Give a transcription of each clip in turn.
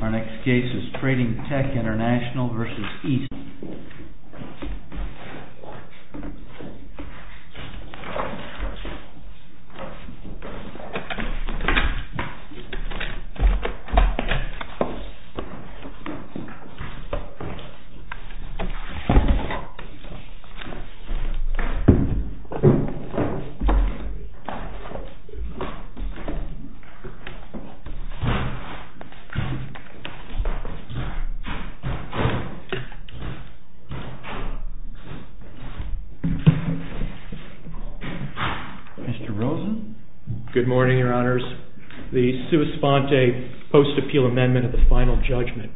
Our next case is TRADING TECH INTL v. ESPEED MR. ROSEN Good morning, Your Honors. The sua sponte post-appeal amendment of the final judgment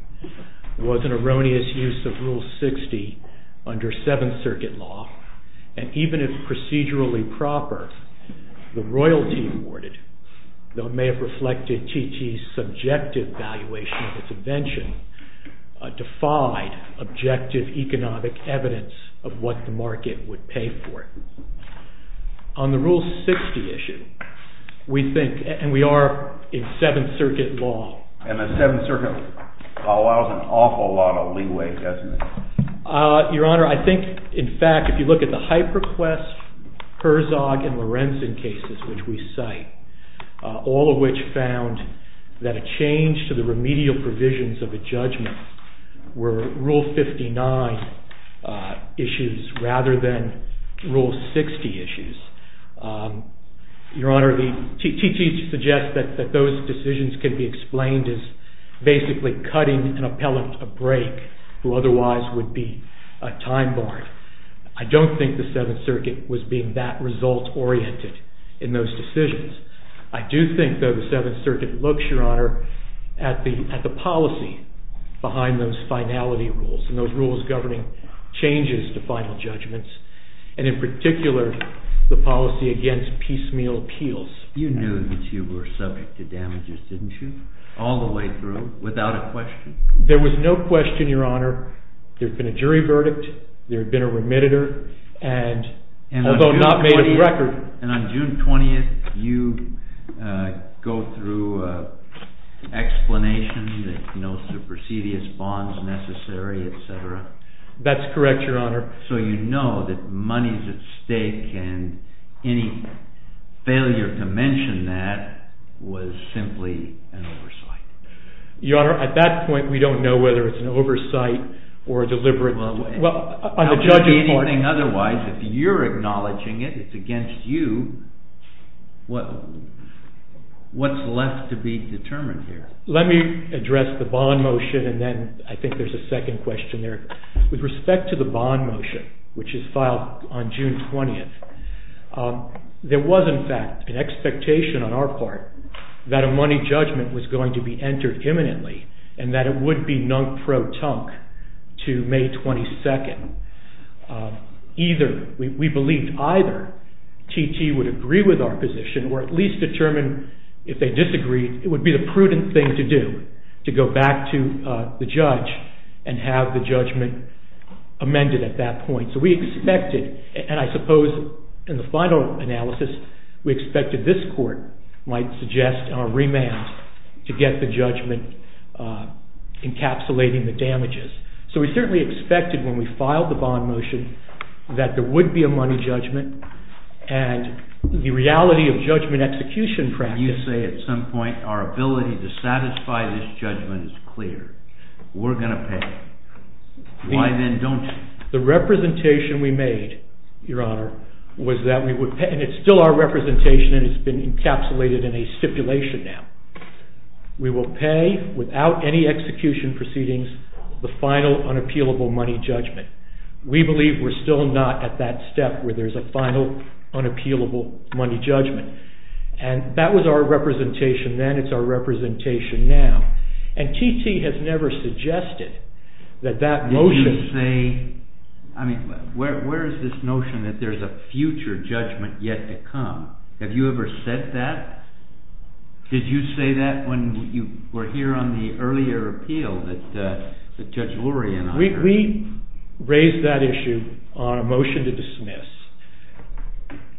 was an erroneous use of Rule 60 under Seventh Circuit law, and even if procedurally proper, the royalty awarded, though it may have reflected T.T.'s subjective valuation of its invention, defied objective economic evidence of what the market would pay for it. On the Rule 60 issue, we think, and we are in Seventh Circuit law... MR. ROSEN And the Seventh Circuit law allows an awful lot of leeway, doesn't it? MR. ROSEN Your Honor, I think, in fact, if you look at the HyperQuest, Herzog, and Lorenzen cases which we cite, all of which found that a change to the remedial provisions of a judgment were Rule 59 issues rather than Rule 60 issues. Your Honor, T.T. suggests that those decisions can be explained as basically cutting an appellant a break who otherwise would be a time barred. I don't think the Seventh Circuit was being that result-oriented in those decisions. I do think, though, the Seventh Circuit looks, Your Honor, at the policy behind those finality rules and those rules governing changes to final judgments, and in particular, the policy against piecemeal appeals. MR. ROSEN You knew that you were subject to damages, didn't you, all the way through, without a question? MR. ROSEN There was no question, Your Honor. There had been a jury verdict, there had been a remediator, and although not made a record... MR. ROSEN And on June 20th, you go through an explanation that no supercedious bond is necessary, etc. MR. ROSEN That's correct, Your Honor. MR. ROSEN So you know that money's at stake, and any failure to mention that was simply MR. ROSEN Your Honor, at that point, we don't know whether it's an oversight or a deliberate deliberate... MR. ROSEN Well... MR. ROSEN ...on the judge's part... MR. ROSEN ...anything otherwise. If you're acknowledging it, it's against you, what's left to be determined here? MR. ROSEN Let me address the bond motion, and then I think there's a second question there. With respect to the bond motion, which is filed on June 20th, there was in fact an expectation on our part that a money judgment was going to be entered imminently, and that it would be non-pro-tunk to May 22nd. Either, we believed either, TT would agree with our position, or at least determine if they disagreed, it would be the prudent thing to do, to go back to the judge and have the judgment amended at that point. So we expected, and I suppose in the final analysis, we expected this court might suggest a remand to get the judgment encapsulating the damages. So we certainly expected, when we filed the bond motion, that there would be a money judgment, and the reality of judgment execution practice... We're going to pay. Why then don't you? MR. ROSEN The representation we made, Your Honor, was that we would pay, and it's still our representation, and it's been encapsulated in a stipulation now. We will pay, without any execution proceedings, the final unappealable money judgment. We believe we're still not at that step where there's a final unappealable money judgment. And that was our representation then, it's our representation now. And TT has never suggested that that motion... JUDGE LEBEN Did you say... I mean, where is this notion that there's a future judgment yet to come? Have you ever said that? Did you say that when you were here on the earlier appeal that Judge Lurie and I heard? MR. ROSEN We raised that issue on a motion to dismiss.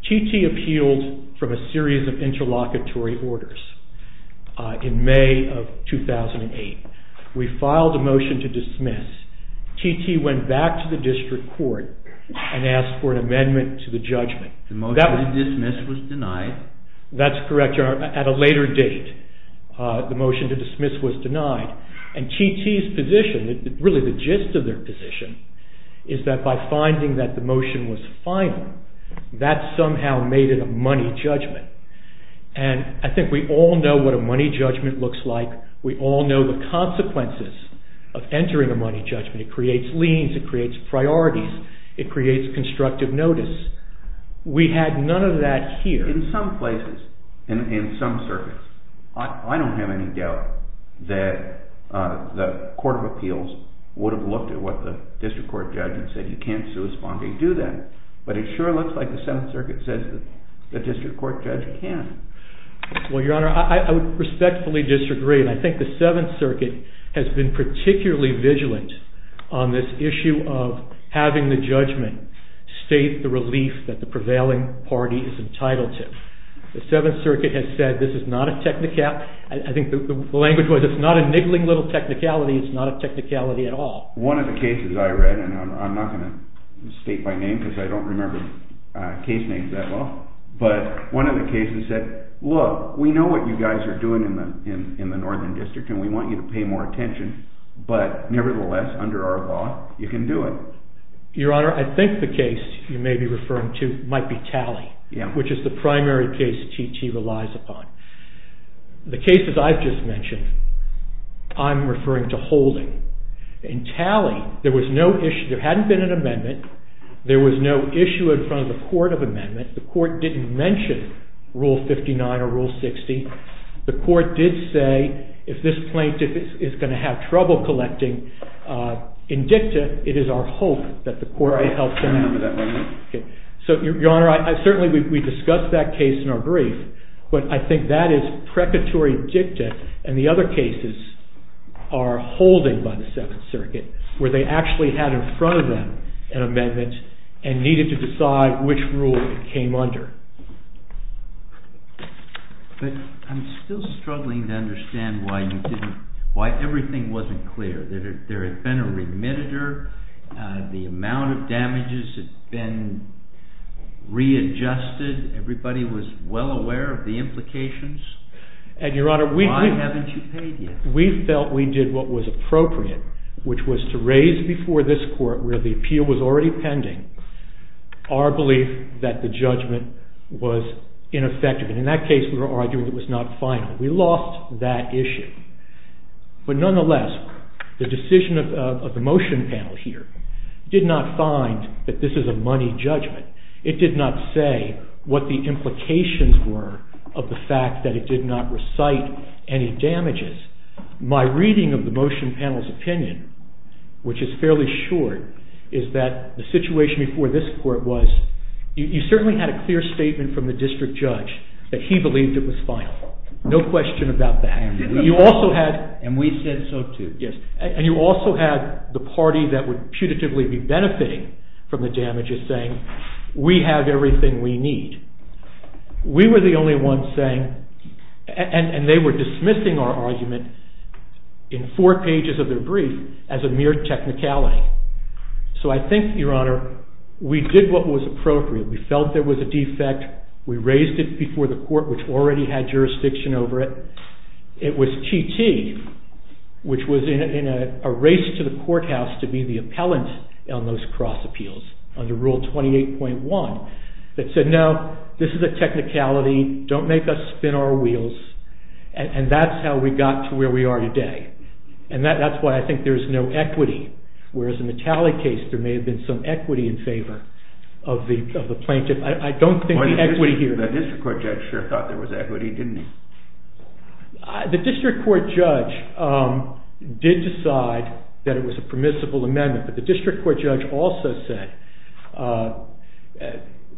TT appealed from a series of motions in May of 2008. We filed a motion to dismiss. TT went back to the district court and asked for an amendment to the judgment. JUDGE LEBEN The motion to dismiss was denied. MR. ROSEN That's correct, Your Honor. At a later date, the motion to dismiss was denied. And TT's position, really the gist of their position, is that by finding that the motion was final, that somehow made it a money judgment. And I think we all know what a money judgment looks like. We all know the consequences of entering a money judgment. It creates liens, it creates priorities, it creates constructive notice. We had none of that here. JUDGE LEBEN In some places, in some circuits, I don't have any doubt that the Court of Appeals would have looked at what the district court judge said. You can't do that. But it sure looks like the Seventh Circuit says the district court judge can. MR. ROSEN Well, Your Honor, I would respectfully disagree. And I think the Seventh Circuit has been particularly vigilant on this issue of having the judgment state the relief that the prevailing party is entitled to. The Seventh Circuit has said this is not a technicality. I think the language was it's not a niggling little technicality, it's not a technicality at all. JUDGE LEBEN One of the cases I read, and I'm not going to state my name because I don't remember case names that well, but one of the cases said, look, we know what you guys are doing in the Northern District and we want you to pay more attention, but nevertheless, under our law, you can do it. MR. ROSEN Your Honor, I think the case you may be referring to might be Talley, which is the case, as I've just mentioned, I'm referring to holding. In Talley, there was no issue, there hadn't been an amendment, there was no issue in front of the court of amendment, the court didn't mention Rule 59 or Rule 60, the court did say if this plaintiff is going to have trouble collecting indicta, it is our hope that the court will help them. JUDGE LEBEN I remember that one. MR. ROSEN So, Your Honor, certainly we discussed that case in our brief, but I think that is what Secretary Dicta and the other cases are holding by the Second Circuit, where they actually had in front of them an amendment and needed to decide which rule it came under. JUDGE LEBEN But I'm still struggling to understand why you didn't, why everything wasn't clear, that there had been a remitter, the amount of damages had been readjusted, everybody was well aware of the implications, why haven't you paid yet? MR. ROSEN We felt we did what was appropriate, which was to raise before this court, where the appeal was already pending, our belief that the judgment was ineffective. And in that case, we were arguing it was not final. We lost that issue. But nonetheless, the decision of the motion panel here did not find that this is a money judgment. It did not say what the implications were of the fact that it did not recite any damages. My reading of the motion panel's opinion, which is fairly short, is that the situation before this court was, you certainly had a clear statement from the district judge that he believed it was final. No question about that. JUDGE LEBEN And we said so too. MR. ROSEN Yes. And you also had the party that would putatively be benefiting from the damages saying, we have everything we need. We were the only ones saying, and they were dismissing our argument in four pages of their brief as a mere technicality. So I think, Your Honor, we did what was appropriate. We felt there was a defect. We raised it before the court, which already had jurisdiction over it. It was TT, which was in a race to the courthouse to be the appellant on those cross appeals under Rule 28.1, that said, no, this is a technicality. Don't make us spin our wheels. And that's how we got to where we are today. And that's why I think there's no equity. Whereas in the Talley case, there may have been some equity in favor of the plaintiff. I don't think the equity here… The district court judge did decide that it was a permissible amendment. But the district court judge also said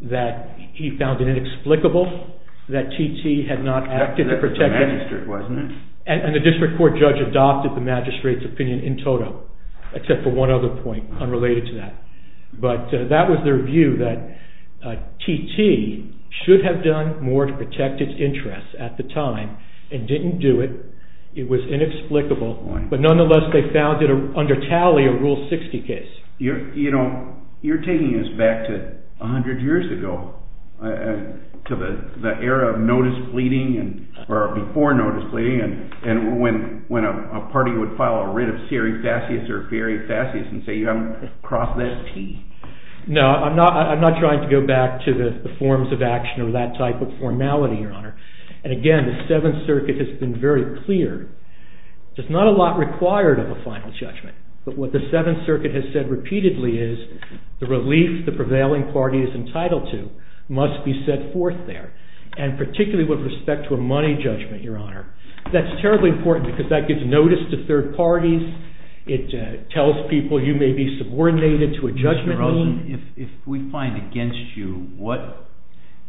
that he found it inexplicable that TT had not acted to protect… JUDGE LEBEN That was the magistrate, wasn't it? MR. ROSEN And the district court judge adopted the magistrate's opinion in total, except for one other point unrelated to that. But that was their view, that TT should have done more to protect its interests at the time and didn't do it. It was inexplicable. But nonetheless, they found it under Talley, a Rule 60 case. JUDGE LEBEN You're taking us back to 100 years ago, to the era of notice pleading, or before notice pleading, and when a party would file a writ of serifascius or verifascius and say, you haven't crossed that T. MR. ROSEN No, I'm not trying to go back to the forms of action or that type of formality, Your Honor. And again, the Seventh Circuit has been very clear. There's not a lot required of a final judgment. But what the Seventh Circuit has said repeatedly is the relief the prevailing party is entitled to must be set forth there, and particularly with respect to a money judgment, Your Honor. That's terribly important because that gives notice to third parties. It tells people you may be subordinated to a judgment. JUDGE LEBEN Mr. Rosen, if we find against you, what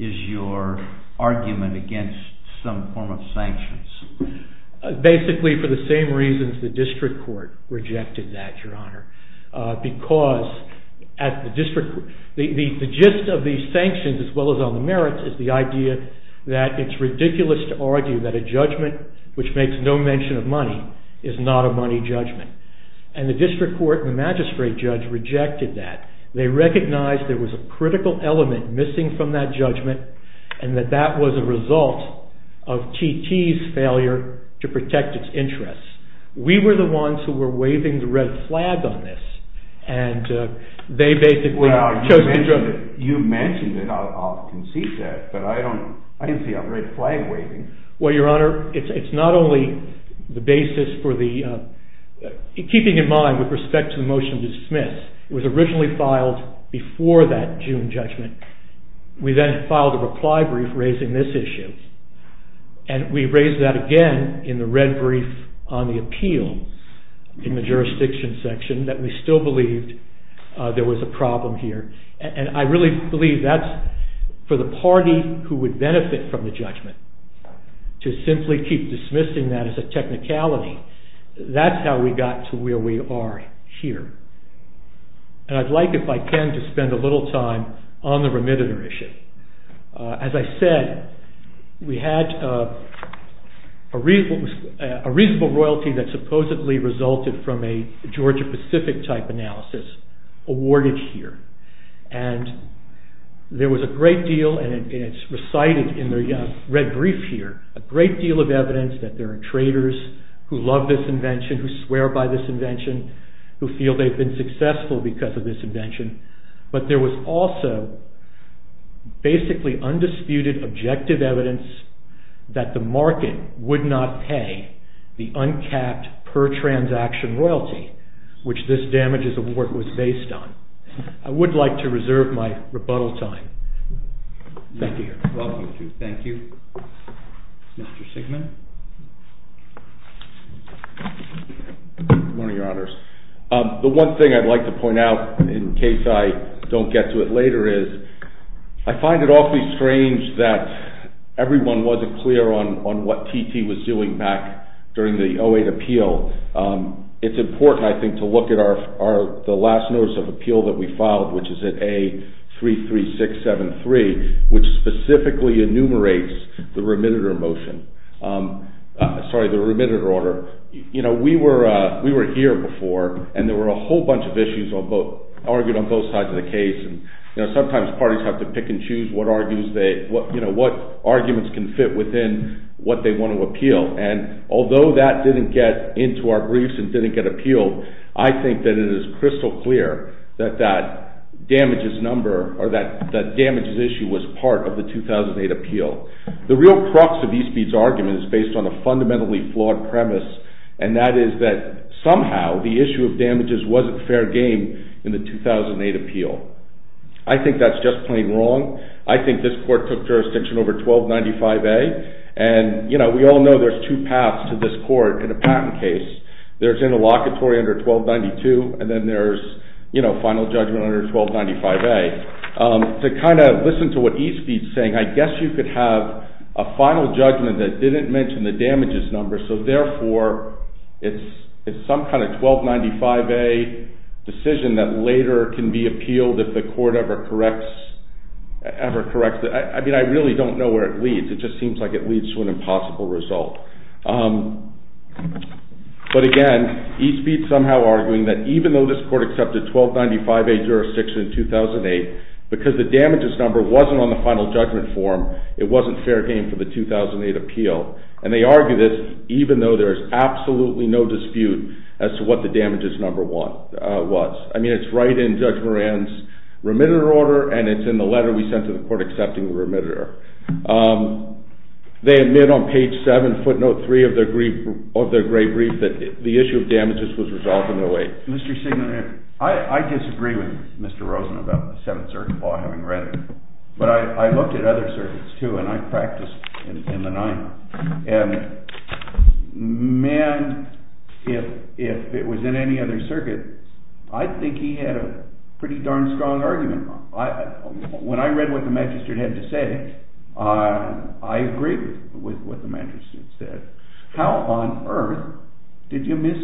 is your argument against some form of sanctions? MR. ROSEN Basically, for the same reasons the district court rejected that, Your Honor. Because the gist of these sanctions, as well as on the merits, is the idea that it's ridiculous to argue that a judgment which makes no mention of money is not a money judgment. And the district court and the magistrate judge rejected that. They recognized there was a critical element missing from that judgment, and that that was a result of T.T.'s failure to protect its interests. We were the ones who were waving the red flag on this, and they basically chose to judge it. JUDGE LEBEN Well, you mentioned it. I'll concede that. But I didn't see a red flag waving. MR. ROSEN Well, Your Honor, it's not only the basis for the – keeping in mind with respect to the motion to dismiss, it was originally filed before that June judgment. We then filed a reply brief raising this issue. And we raised that again in the red brief on the appeal in the jurisdiction section, that we still believed there was a problem here. And I really believe that's for the party who would benefit from the judgment to simply keep dismissing that as a technicality. That's how we got to where we are here. And I'd like, if I can, to spend a little time on the remitter issue. As I said, we had a reasonable royalty that supposedly resulted from a Georgia-Pacific type analysis awarded here. And there was a great deal, and it's recited in the red brief here, a great deal of evidence that there are traitors who love this invention, who swear by this invention, who feel they've been successful because of this invention. But there was also basically undisputed objective evidence that the market would not pay the uncapped per-transaction royalty, which this damages award was based on. I would like to reserve my rebuttal time. Thank you. Welcome to you. Thank you. Mr. Sigman? Good morning, Your Honors. The one thing I'd like to point out, in case I don't get to it later, is I find it awfully strange that everyone wasn't clear on what TT was doing back during the 08 appeal. It's important, I think, to look at the last notice of appeal that we filed, which is at A33673, which specifically enumerates the remitter order. We were here before, and there were a whole bunch of issues argued on both sides of the case. Sometimes parties have to pick and choose what arguments can fit within what they want to appeal. And although that didn't get into our briefs and didn't get appealed, I think that it is crystal clear that that damages issue was part of the 2008 appeal. The real crux of E-Speed's argument is based on a fundamentally flawed premise, and that is that somehow the issue of damages wasn't fair game in the 2008 appeal. I think that's just plain wrong. I think this court took jurisdiction over 1295A, and we all know there's two paths to this court in a patent case. There's interlocutory under 1292, and then there's final judgment under 1295A. To kind of listen to what E-Speed's saying, I guess you could have a final judgment that didn't mention the damages number, so therefore it's some kind of 1295A decision that later can be appealed if the court ever corrects it. I mean, I really don't know where it leads. It just seems like it leads to an impossible result. But again, E-Speed's somehow arguing that even though this court accepted 1295A jurisdiction in 2008, because the damages number wasn't on the final judgment form, it wasn't fair game for the 2008 appeal. And they argue this even though there's absolutely no dispute as to what the damages number was. I mean, it's right in Judge Moran's remitter order, and it's in the letter we sent to the court accepting the remitter. They admit on page 7, footnote 3 of their great brief, that the issue of damages was resolved in 08. Mr. Singleton, I disagree with Mr. Rosen about the Seventh Circuit Law, having read it. But I looked at other circuits, too, and I practiced in the Ninth. And, man, if it was in any other circuit, I think he had a pretty darn strong argument. When I read what the magistrate had to say, I agreed with what the magistrate said. How on earth did you miss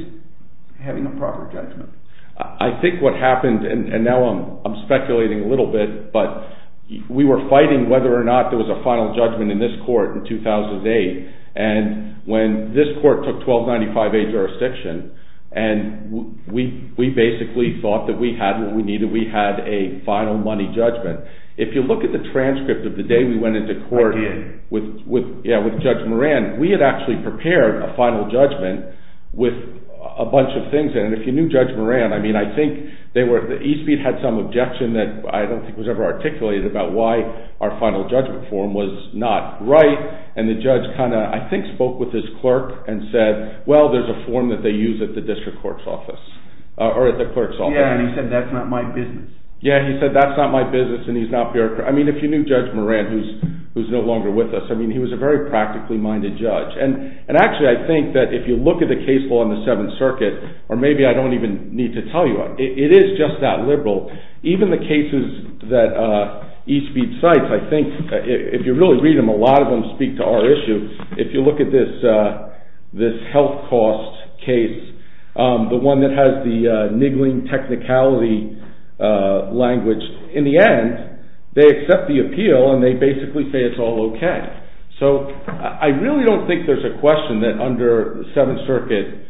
having a proper judgment? I think what happened, and now I'm speculating a little bit, but we were fighting whether or not there was a final judgment in this court in 2008. And when this court took 1295A jurisdiction, we basically thought that we had what we needed. We had a final money judgment. If you look at the transcript of the day we went into court with Judge Moran, we had actually prepared a final judgment with a bunch of things in it. And if you knew Judge Moran, I think Eastmead had some objection that I don't think was ever articulated about why our final judgment form was not right. And the judge kind of, I think, spoke with his clerk and said, well, there's a form that they use at the district clerk's office, or at the clerk's office. Yeah, and he said, that's not my business. Yeah, he said, that's not my business, and he's not bureaucratic. I mean, if you knew Judge Moran, who's no longer with us, I mean, he was a very practically minded judge. And actually, I think that if you look at the case law in the Seventh Circuit, or maybe I don't even need to tell you, it is just that liberal. Even the cases that Eastmead cites, I think, if you really read them, a lot of them speak to our issue. If you look at this health cost case, the one that has the niggling technicality language, in the end, they accept the appeal, and they basically say it's all okay. So, I really don't think there's a question that under the Seventh Circuit,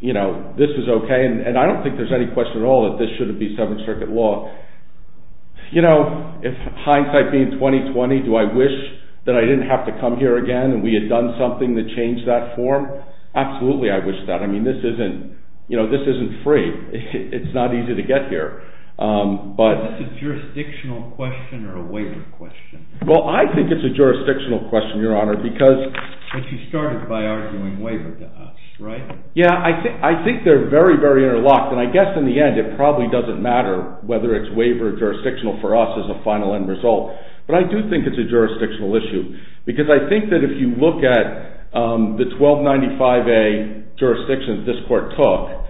you know, this is okay. And I don't think there's any question at all that this shouldn't be Seventh Circuit law. You know, hindsight being 20-20, do I wish that I didn't have to come here again, and we had done something to change that form? Absolutely, I wish that. I mean, this isn't free. It's not easy to get here. Is this a jurisdictional question or a waiver question? Well, I think it's a jurisdictional question, Your Honor, because... But you started by arguing waiver to us, right? Yeah, I think they're very, very interlocked. And I guess in the end, it probably doesn't matter whether it's waiver or jurisdictional for us as a final end result. But I do think it's a jurisdictional issue. Because I think that if you look at the 1295A jurisdictions this Court took,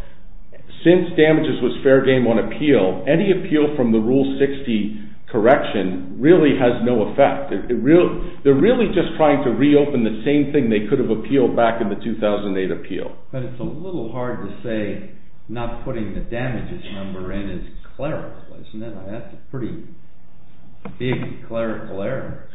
since damages was fair game on appeal, any appeal from the Rule 60 correction really has no effect. They're really just trying to reopen the same thing they could have appealed back in the 2008 appeal. But it's a little hard to say not putting the damages number in as clerical, isn't it? That's a pretty big clerical error.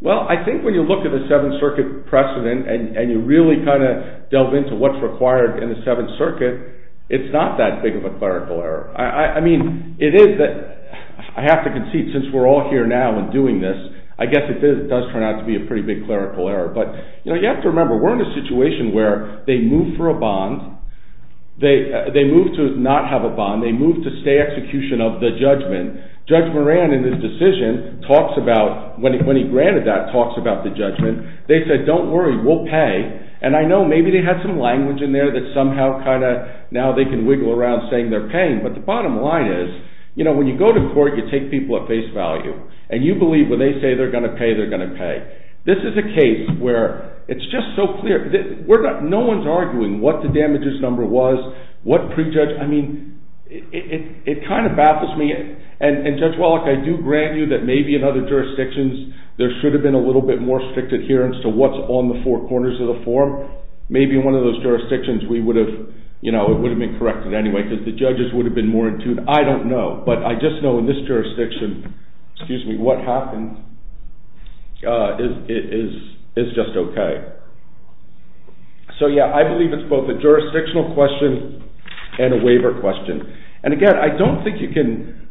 Well, I think when you look at the Seventh Circuit precedent, and you really kind of delve into what's required in the Seventh Circuit, it's not that big of a clerical error. I mean, it is that I have to concede, since we're all here now and doing this, I guess it does turn out to be a pretty big clerical error. But you have to remember, we're in a situation where they move for a bond. They move to not have a bond. They move to stay execution of the judgment. Judge Moran, in his decision, when he granted that, talks about the judgment. They said, don't worry, we'll pay. And I know maybe they had some language in there that somehow kind of now they can wiggle around saying they're paying. But the bottom line is, when you go to court, you take people at face value. And you believe when they say they're going to pay, they're going to pay. This is a case where it's just so clear. No one's arguing what the damages number was, what pre-judge. I mean, it kind of baffles me. And, Judge Wallach, I do grant you that maybe in other jurisdictions, there should have been a little bit more strict adherence to what's on the four corners of the form. Maybe in one of those jurisdictions we would have, you know, it would have been corrected anyway, because the judges would have been more in tune. I don't know. But I just know in this jurisdiction, excuse me, what happened is just okay. So, yeah, I believe it's both a jurisdictional question and a waiver question. And, again, I don't think you can,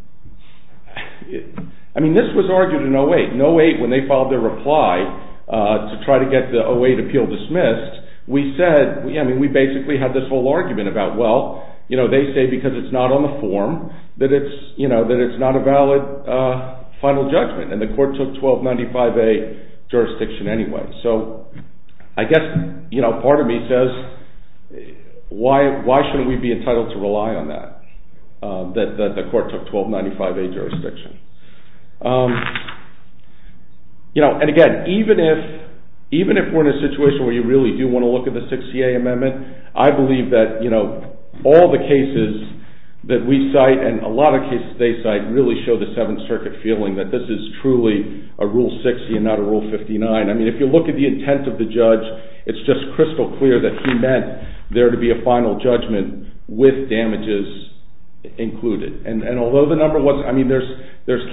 I mean, this was argued in 08. In 08, when they filed their reply to try to get the 08 appeal dismissed, we said, I mean, we basically had this whole argument about, well, you know, they say because it's not on the form that it's, you know, that it's not a valid final judgment. And the court took 1295A jurisdiction anyway. So I guess, you know, part of me says, why shouldn't we be entitled to rely on that, that the court took 1295A jurisdiction? You know, and, again, even if we're in a situation where you really do want to look at the 6CA amendment, I believe that, you know, all the cases that we cite and a lot of cases they cite really show the Seventh Circuit feeling that this is truly a Rule 60 and not a Rule 59. I mean, if you look at the intent of the judge, it's just crystal clear that he meant there to be a final judgment with damages included. And although the number wasn't, I mean, there's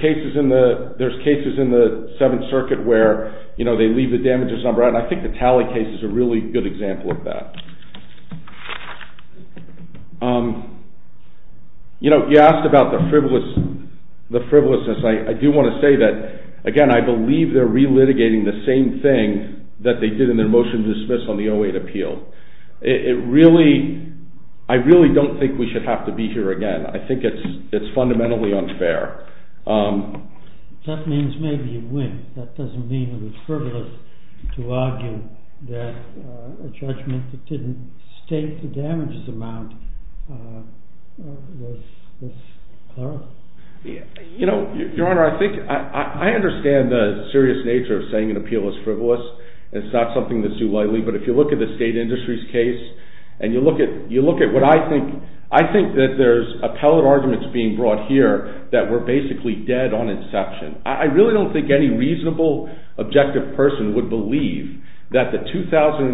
cases in the Seventh Circuit where, you know, they leave the damages number out, and I think the Talley case is a really good example of that. You know, you asked about the frivolousness. I do want to say that, again, I believe they're relitigating the same thing that they did in their motion to dismiss on the 08 appeal. It really, I really don't think we should have to be here again. I think it's fundamentally unfair. That means maybe you win. That doesn't mean it was frivolous to argue that a judgment that didn't state the damages amount was clearer. You know, Your Honor, I think, I understand the serious nature of saying an appeal is frivolous. It's not something that's too likely, but if you look at the state industries case, and you look at what I think, I think that there's appellate arguments being brought here that were basically dead on inception. I really don't think any reasonable, objective person would believe that the 2008,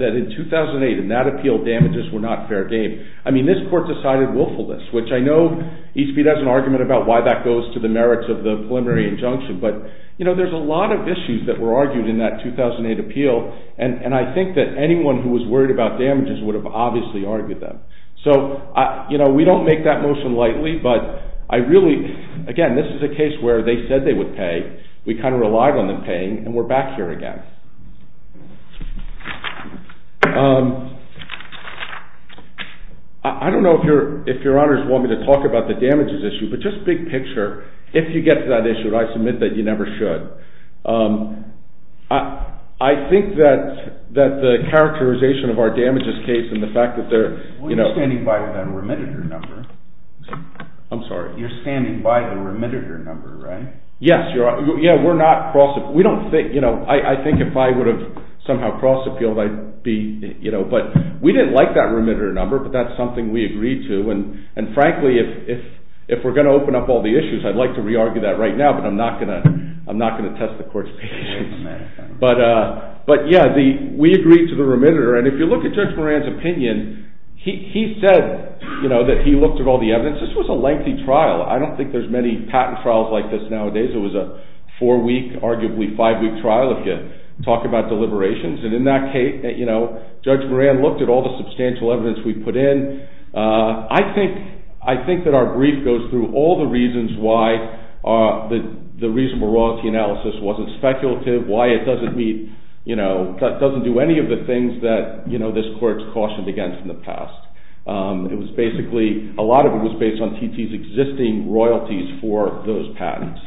that in 2008, in that appeal, damages were not fair game. I mean, this court decided willfulness, which I know Eastbeat has an argument about why that goes to the merits of the preliminary injunction, but, you know, there's a lot of issues that were argued in that 2008 appeal, and I think that anyone who was worried about damages would have obviously argued them. So, you know, we don't make that motion lightly, but I really, again, this is a case where they said they would pay. We kind of relied on them paying, and we're back here again. I don't know if Your Honors want me to talk about the damages issue, but just big picture, if you get to that issue, I submit that you never should. I think that the characterization of our damages case and the fact that they're, you know… Well, you're standing by that remitted number. I'm sorry. You're standing by the remitted number, right? Yes, Your Honor. Yeah, we're not… We don't think, you know, I think if I would have somehow cross appealed, I'd be, you know, but we didn't like that remitted number, but that's something we agreed to, and frankly, if we're going to open up all the issues, I'd like to re-argue that right now, but I'm not going to test the court's patience. But, yeah, we agreed to the remitted number, and if you look at Judge Moran's opinion, he said, you know, that he looked at all the evidence. This was a lengthy trial. I don't think there's many patent trials like this nowadays. It was a four-week, arguably five-week trial if you talk about deliberations, and in that case, you know, Judge Moran looked at all the substantial evidence we put in. I think that our brief goes through all the reasons why the reasonable royalty analysis wasn't speculative, why it doesn't meet, you know, doesn't do any of the things that, you know, this court's cautioned against in the past. It was basically, a lot of it was based on TT's existing royalties for those patents.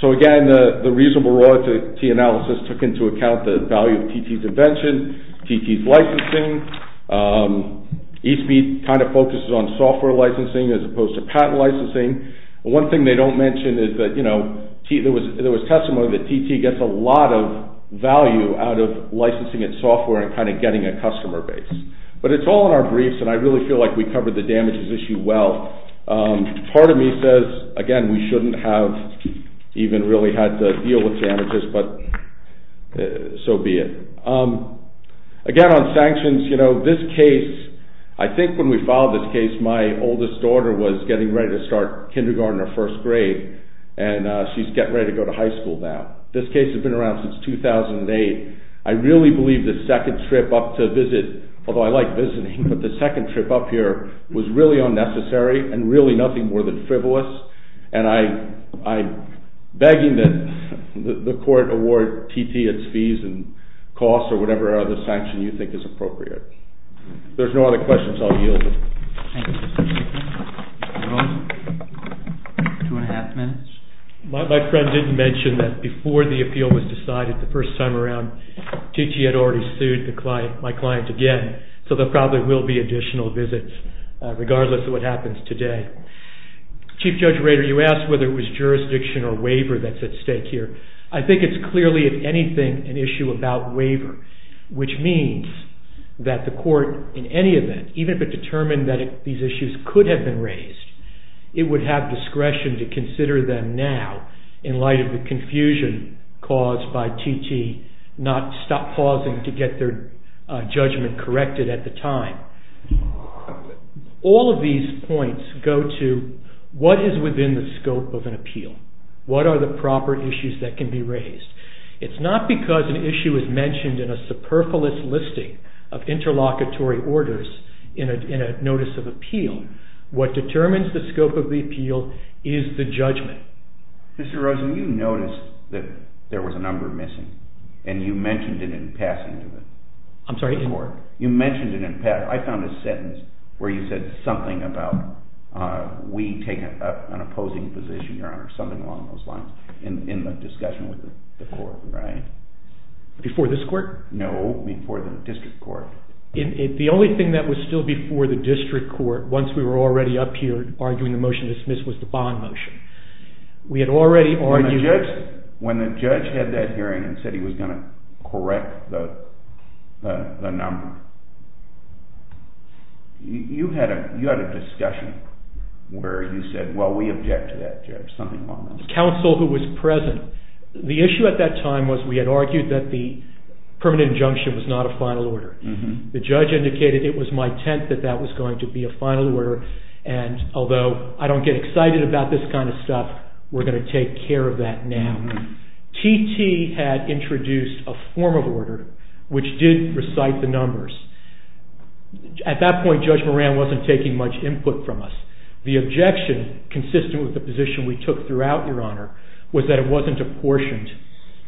So, again, the reasonable royalty analysis took into account the value of TT's invention, TT's licensing, Eastmead kind of focuses on software licensing as opposed to patent licensing. One thing they don't mention is that, you know, there was testimony that TT gets a lot of value out of licensing its software and kind of getting a customer base. But it's all in our briefs, and I really feel like we covered the damages issue well. Part of me says, again, we shouldn't have even really had to deal with damages, but so be it. Again, on sanctions, you know, this case, I think when we filed this case, my oldest daughter was getting ready to start kindergarten or first grade, and she's getting ready to go to high school now. This case has been around since 2008. I really believe the second trip up to visit, although I like visiting, but the second trip up here was really unnecessary and really nothing more than frivolous, and I'm begging that the court award TT its fees and costs or whatever other sanction you think is appropriate. If there's no other questions, I'll yield. Thank you, Mr. Chairman. Two and a half minutes. My friend didn't mention that before the appeal was decided, the first time around, TT had already sued my client again, so there probably will be additional visits, regardless of what happens today. Chief Judge Rader, you asked whether it was jurisdiction or waiver that's at stake here. I think it's clearly, if anything, an issue about waiver, which means that the court, in any event, even if it determined that these issues could have been raised, it would have discretion to consider them now, in light of the confusion caused by TT not pausing to get their judgment corrected at the time. All of these points go to what is within the scope of an appeal. What are the proper issues that can be raised? It's not because an issue is mentioned in a superfluous listing of interlocutory orders in a notice of appeal. What determines the scope of the appeal is the judgment. Mr. Rosen, you noticed that there was a number missing, and you mentioned it in passing to the court. I'm sorry? You mentioned it in passing. I found a sentence where you said something about, we take an opposing position, Your Honor, something along those lines, in the discussion with the court, right? Before this court? No, before the district court. The only thing that was still before the district court, once we were already up here arguing the motion to dismiss, was the bond motion. We had already argued... When the judge had that hearing and said he was going to correct the number, you had a discussion where you said, well, we object to that, Judge, something along those lines. The counsel who was present, the issue at that time was we had argued that the permanent injunction was not a final order. The judge indicated it was my intent that that was going to be a final order, and although I don't get excited about this kind of stuff, we're going to take care of that now. T.T. had introduced a formal order which did recite the numbers. At that point, Judge Moran wasn't taking much input from us. The objection, consistent with the position we took throughout, Your Honor, was that it wasn't apportioned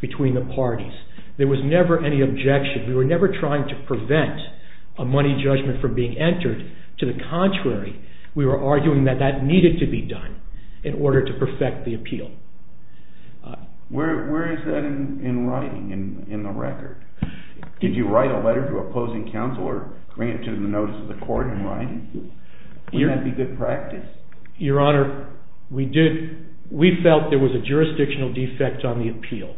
between the parties. There was never any objection. We were never trying to prevent a money judgment from being entered. To the contrary, we were arguing that that needed to be done in order to perfect the appeal. Where is that in writing, in the record? Did you write a letter to opposing counsel or bring it to the notice of the court in writing? Would that be good practice? Your Honor, we felt there was a jurisdictional defect on the appeal.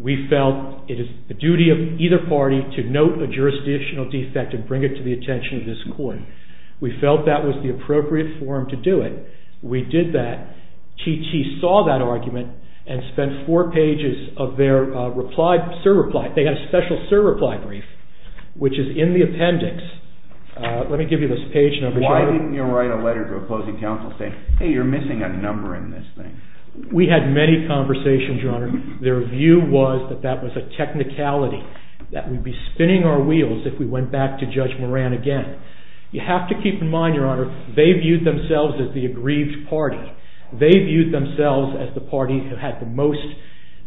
We felt it is the duty of either party to note a jurisdictional defect and bring it to the attention of this court. We felt that was the appropriate form to do it. We did that. T.T. saw that argument and spent four pages of their reply, sir reply. They had a special sir reply brief, which is in the appendix. Let me give you this page number. Why didn't you write a letter to opposing counsel saying, hey, you're missing a number in this thing? We had many conversations, Your Honor. Their view was that that was a technicality that would be spinning our wheels if we went back to Judge Moran again. You have to keep in mind, Your Honor, they viewed themselves as the aggrieved party. They viewed themselves as the party who had the most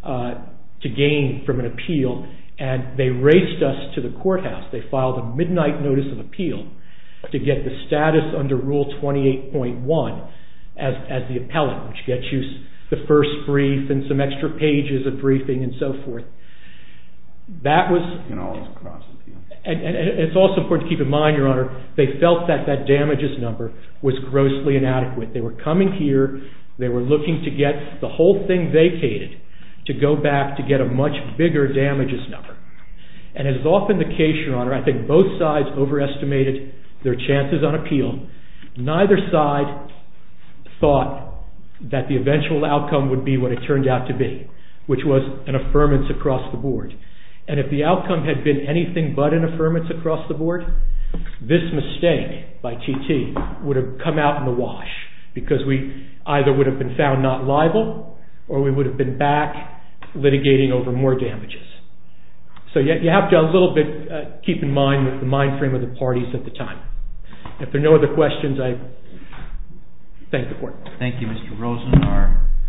to gain from an appeal, and they raced us to the courthouse. They filed a midnight notice of appeal to get the status under Rule 28.1 as the appellate, which gets you the first brief and some extra pages of briefing and so forth. That was... And all this cross appeal. And it's also important to keep in mind, Your Honor, they felt that that damages number was grossly inadequate. They were coming here. They were looking to get the whole thing vacated to go back to get a much bigger damages number. And as is often the case, Your Honor, I think both sides overestimated their chances on appeal. Neither side thought that the eventual outcome would be what it turned out to be, which was an affirmance across the board. And if the outcome had been anything but an affirmance across the board, this mistake by T.T. would have come out in the wash because we either would have been found not liable or we would have been back litigating over more damages. So you have to a little bit keep in mind the mind frame of the parties at the time. If there are no other questions, I thank the court. Thank you, Mr. Rosen.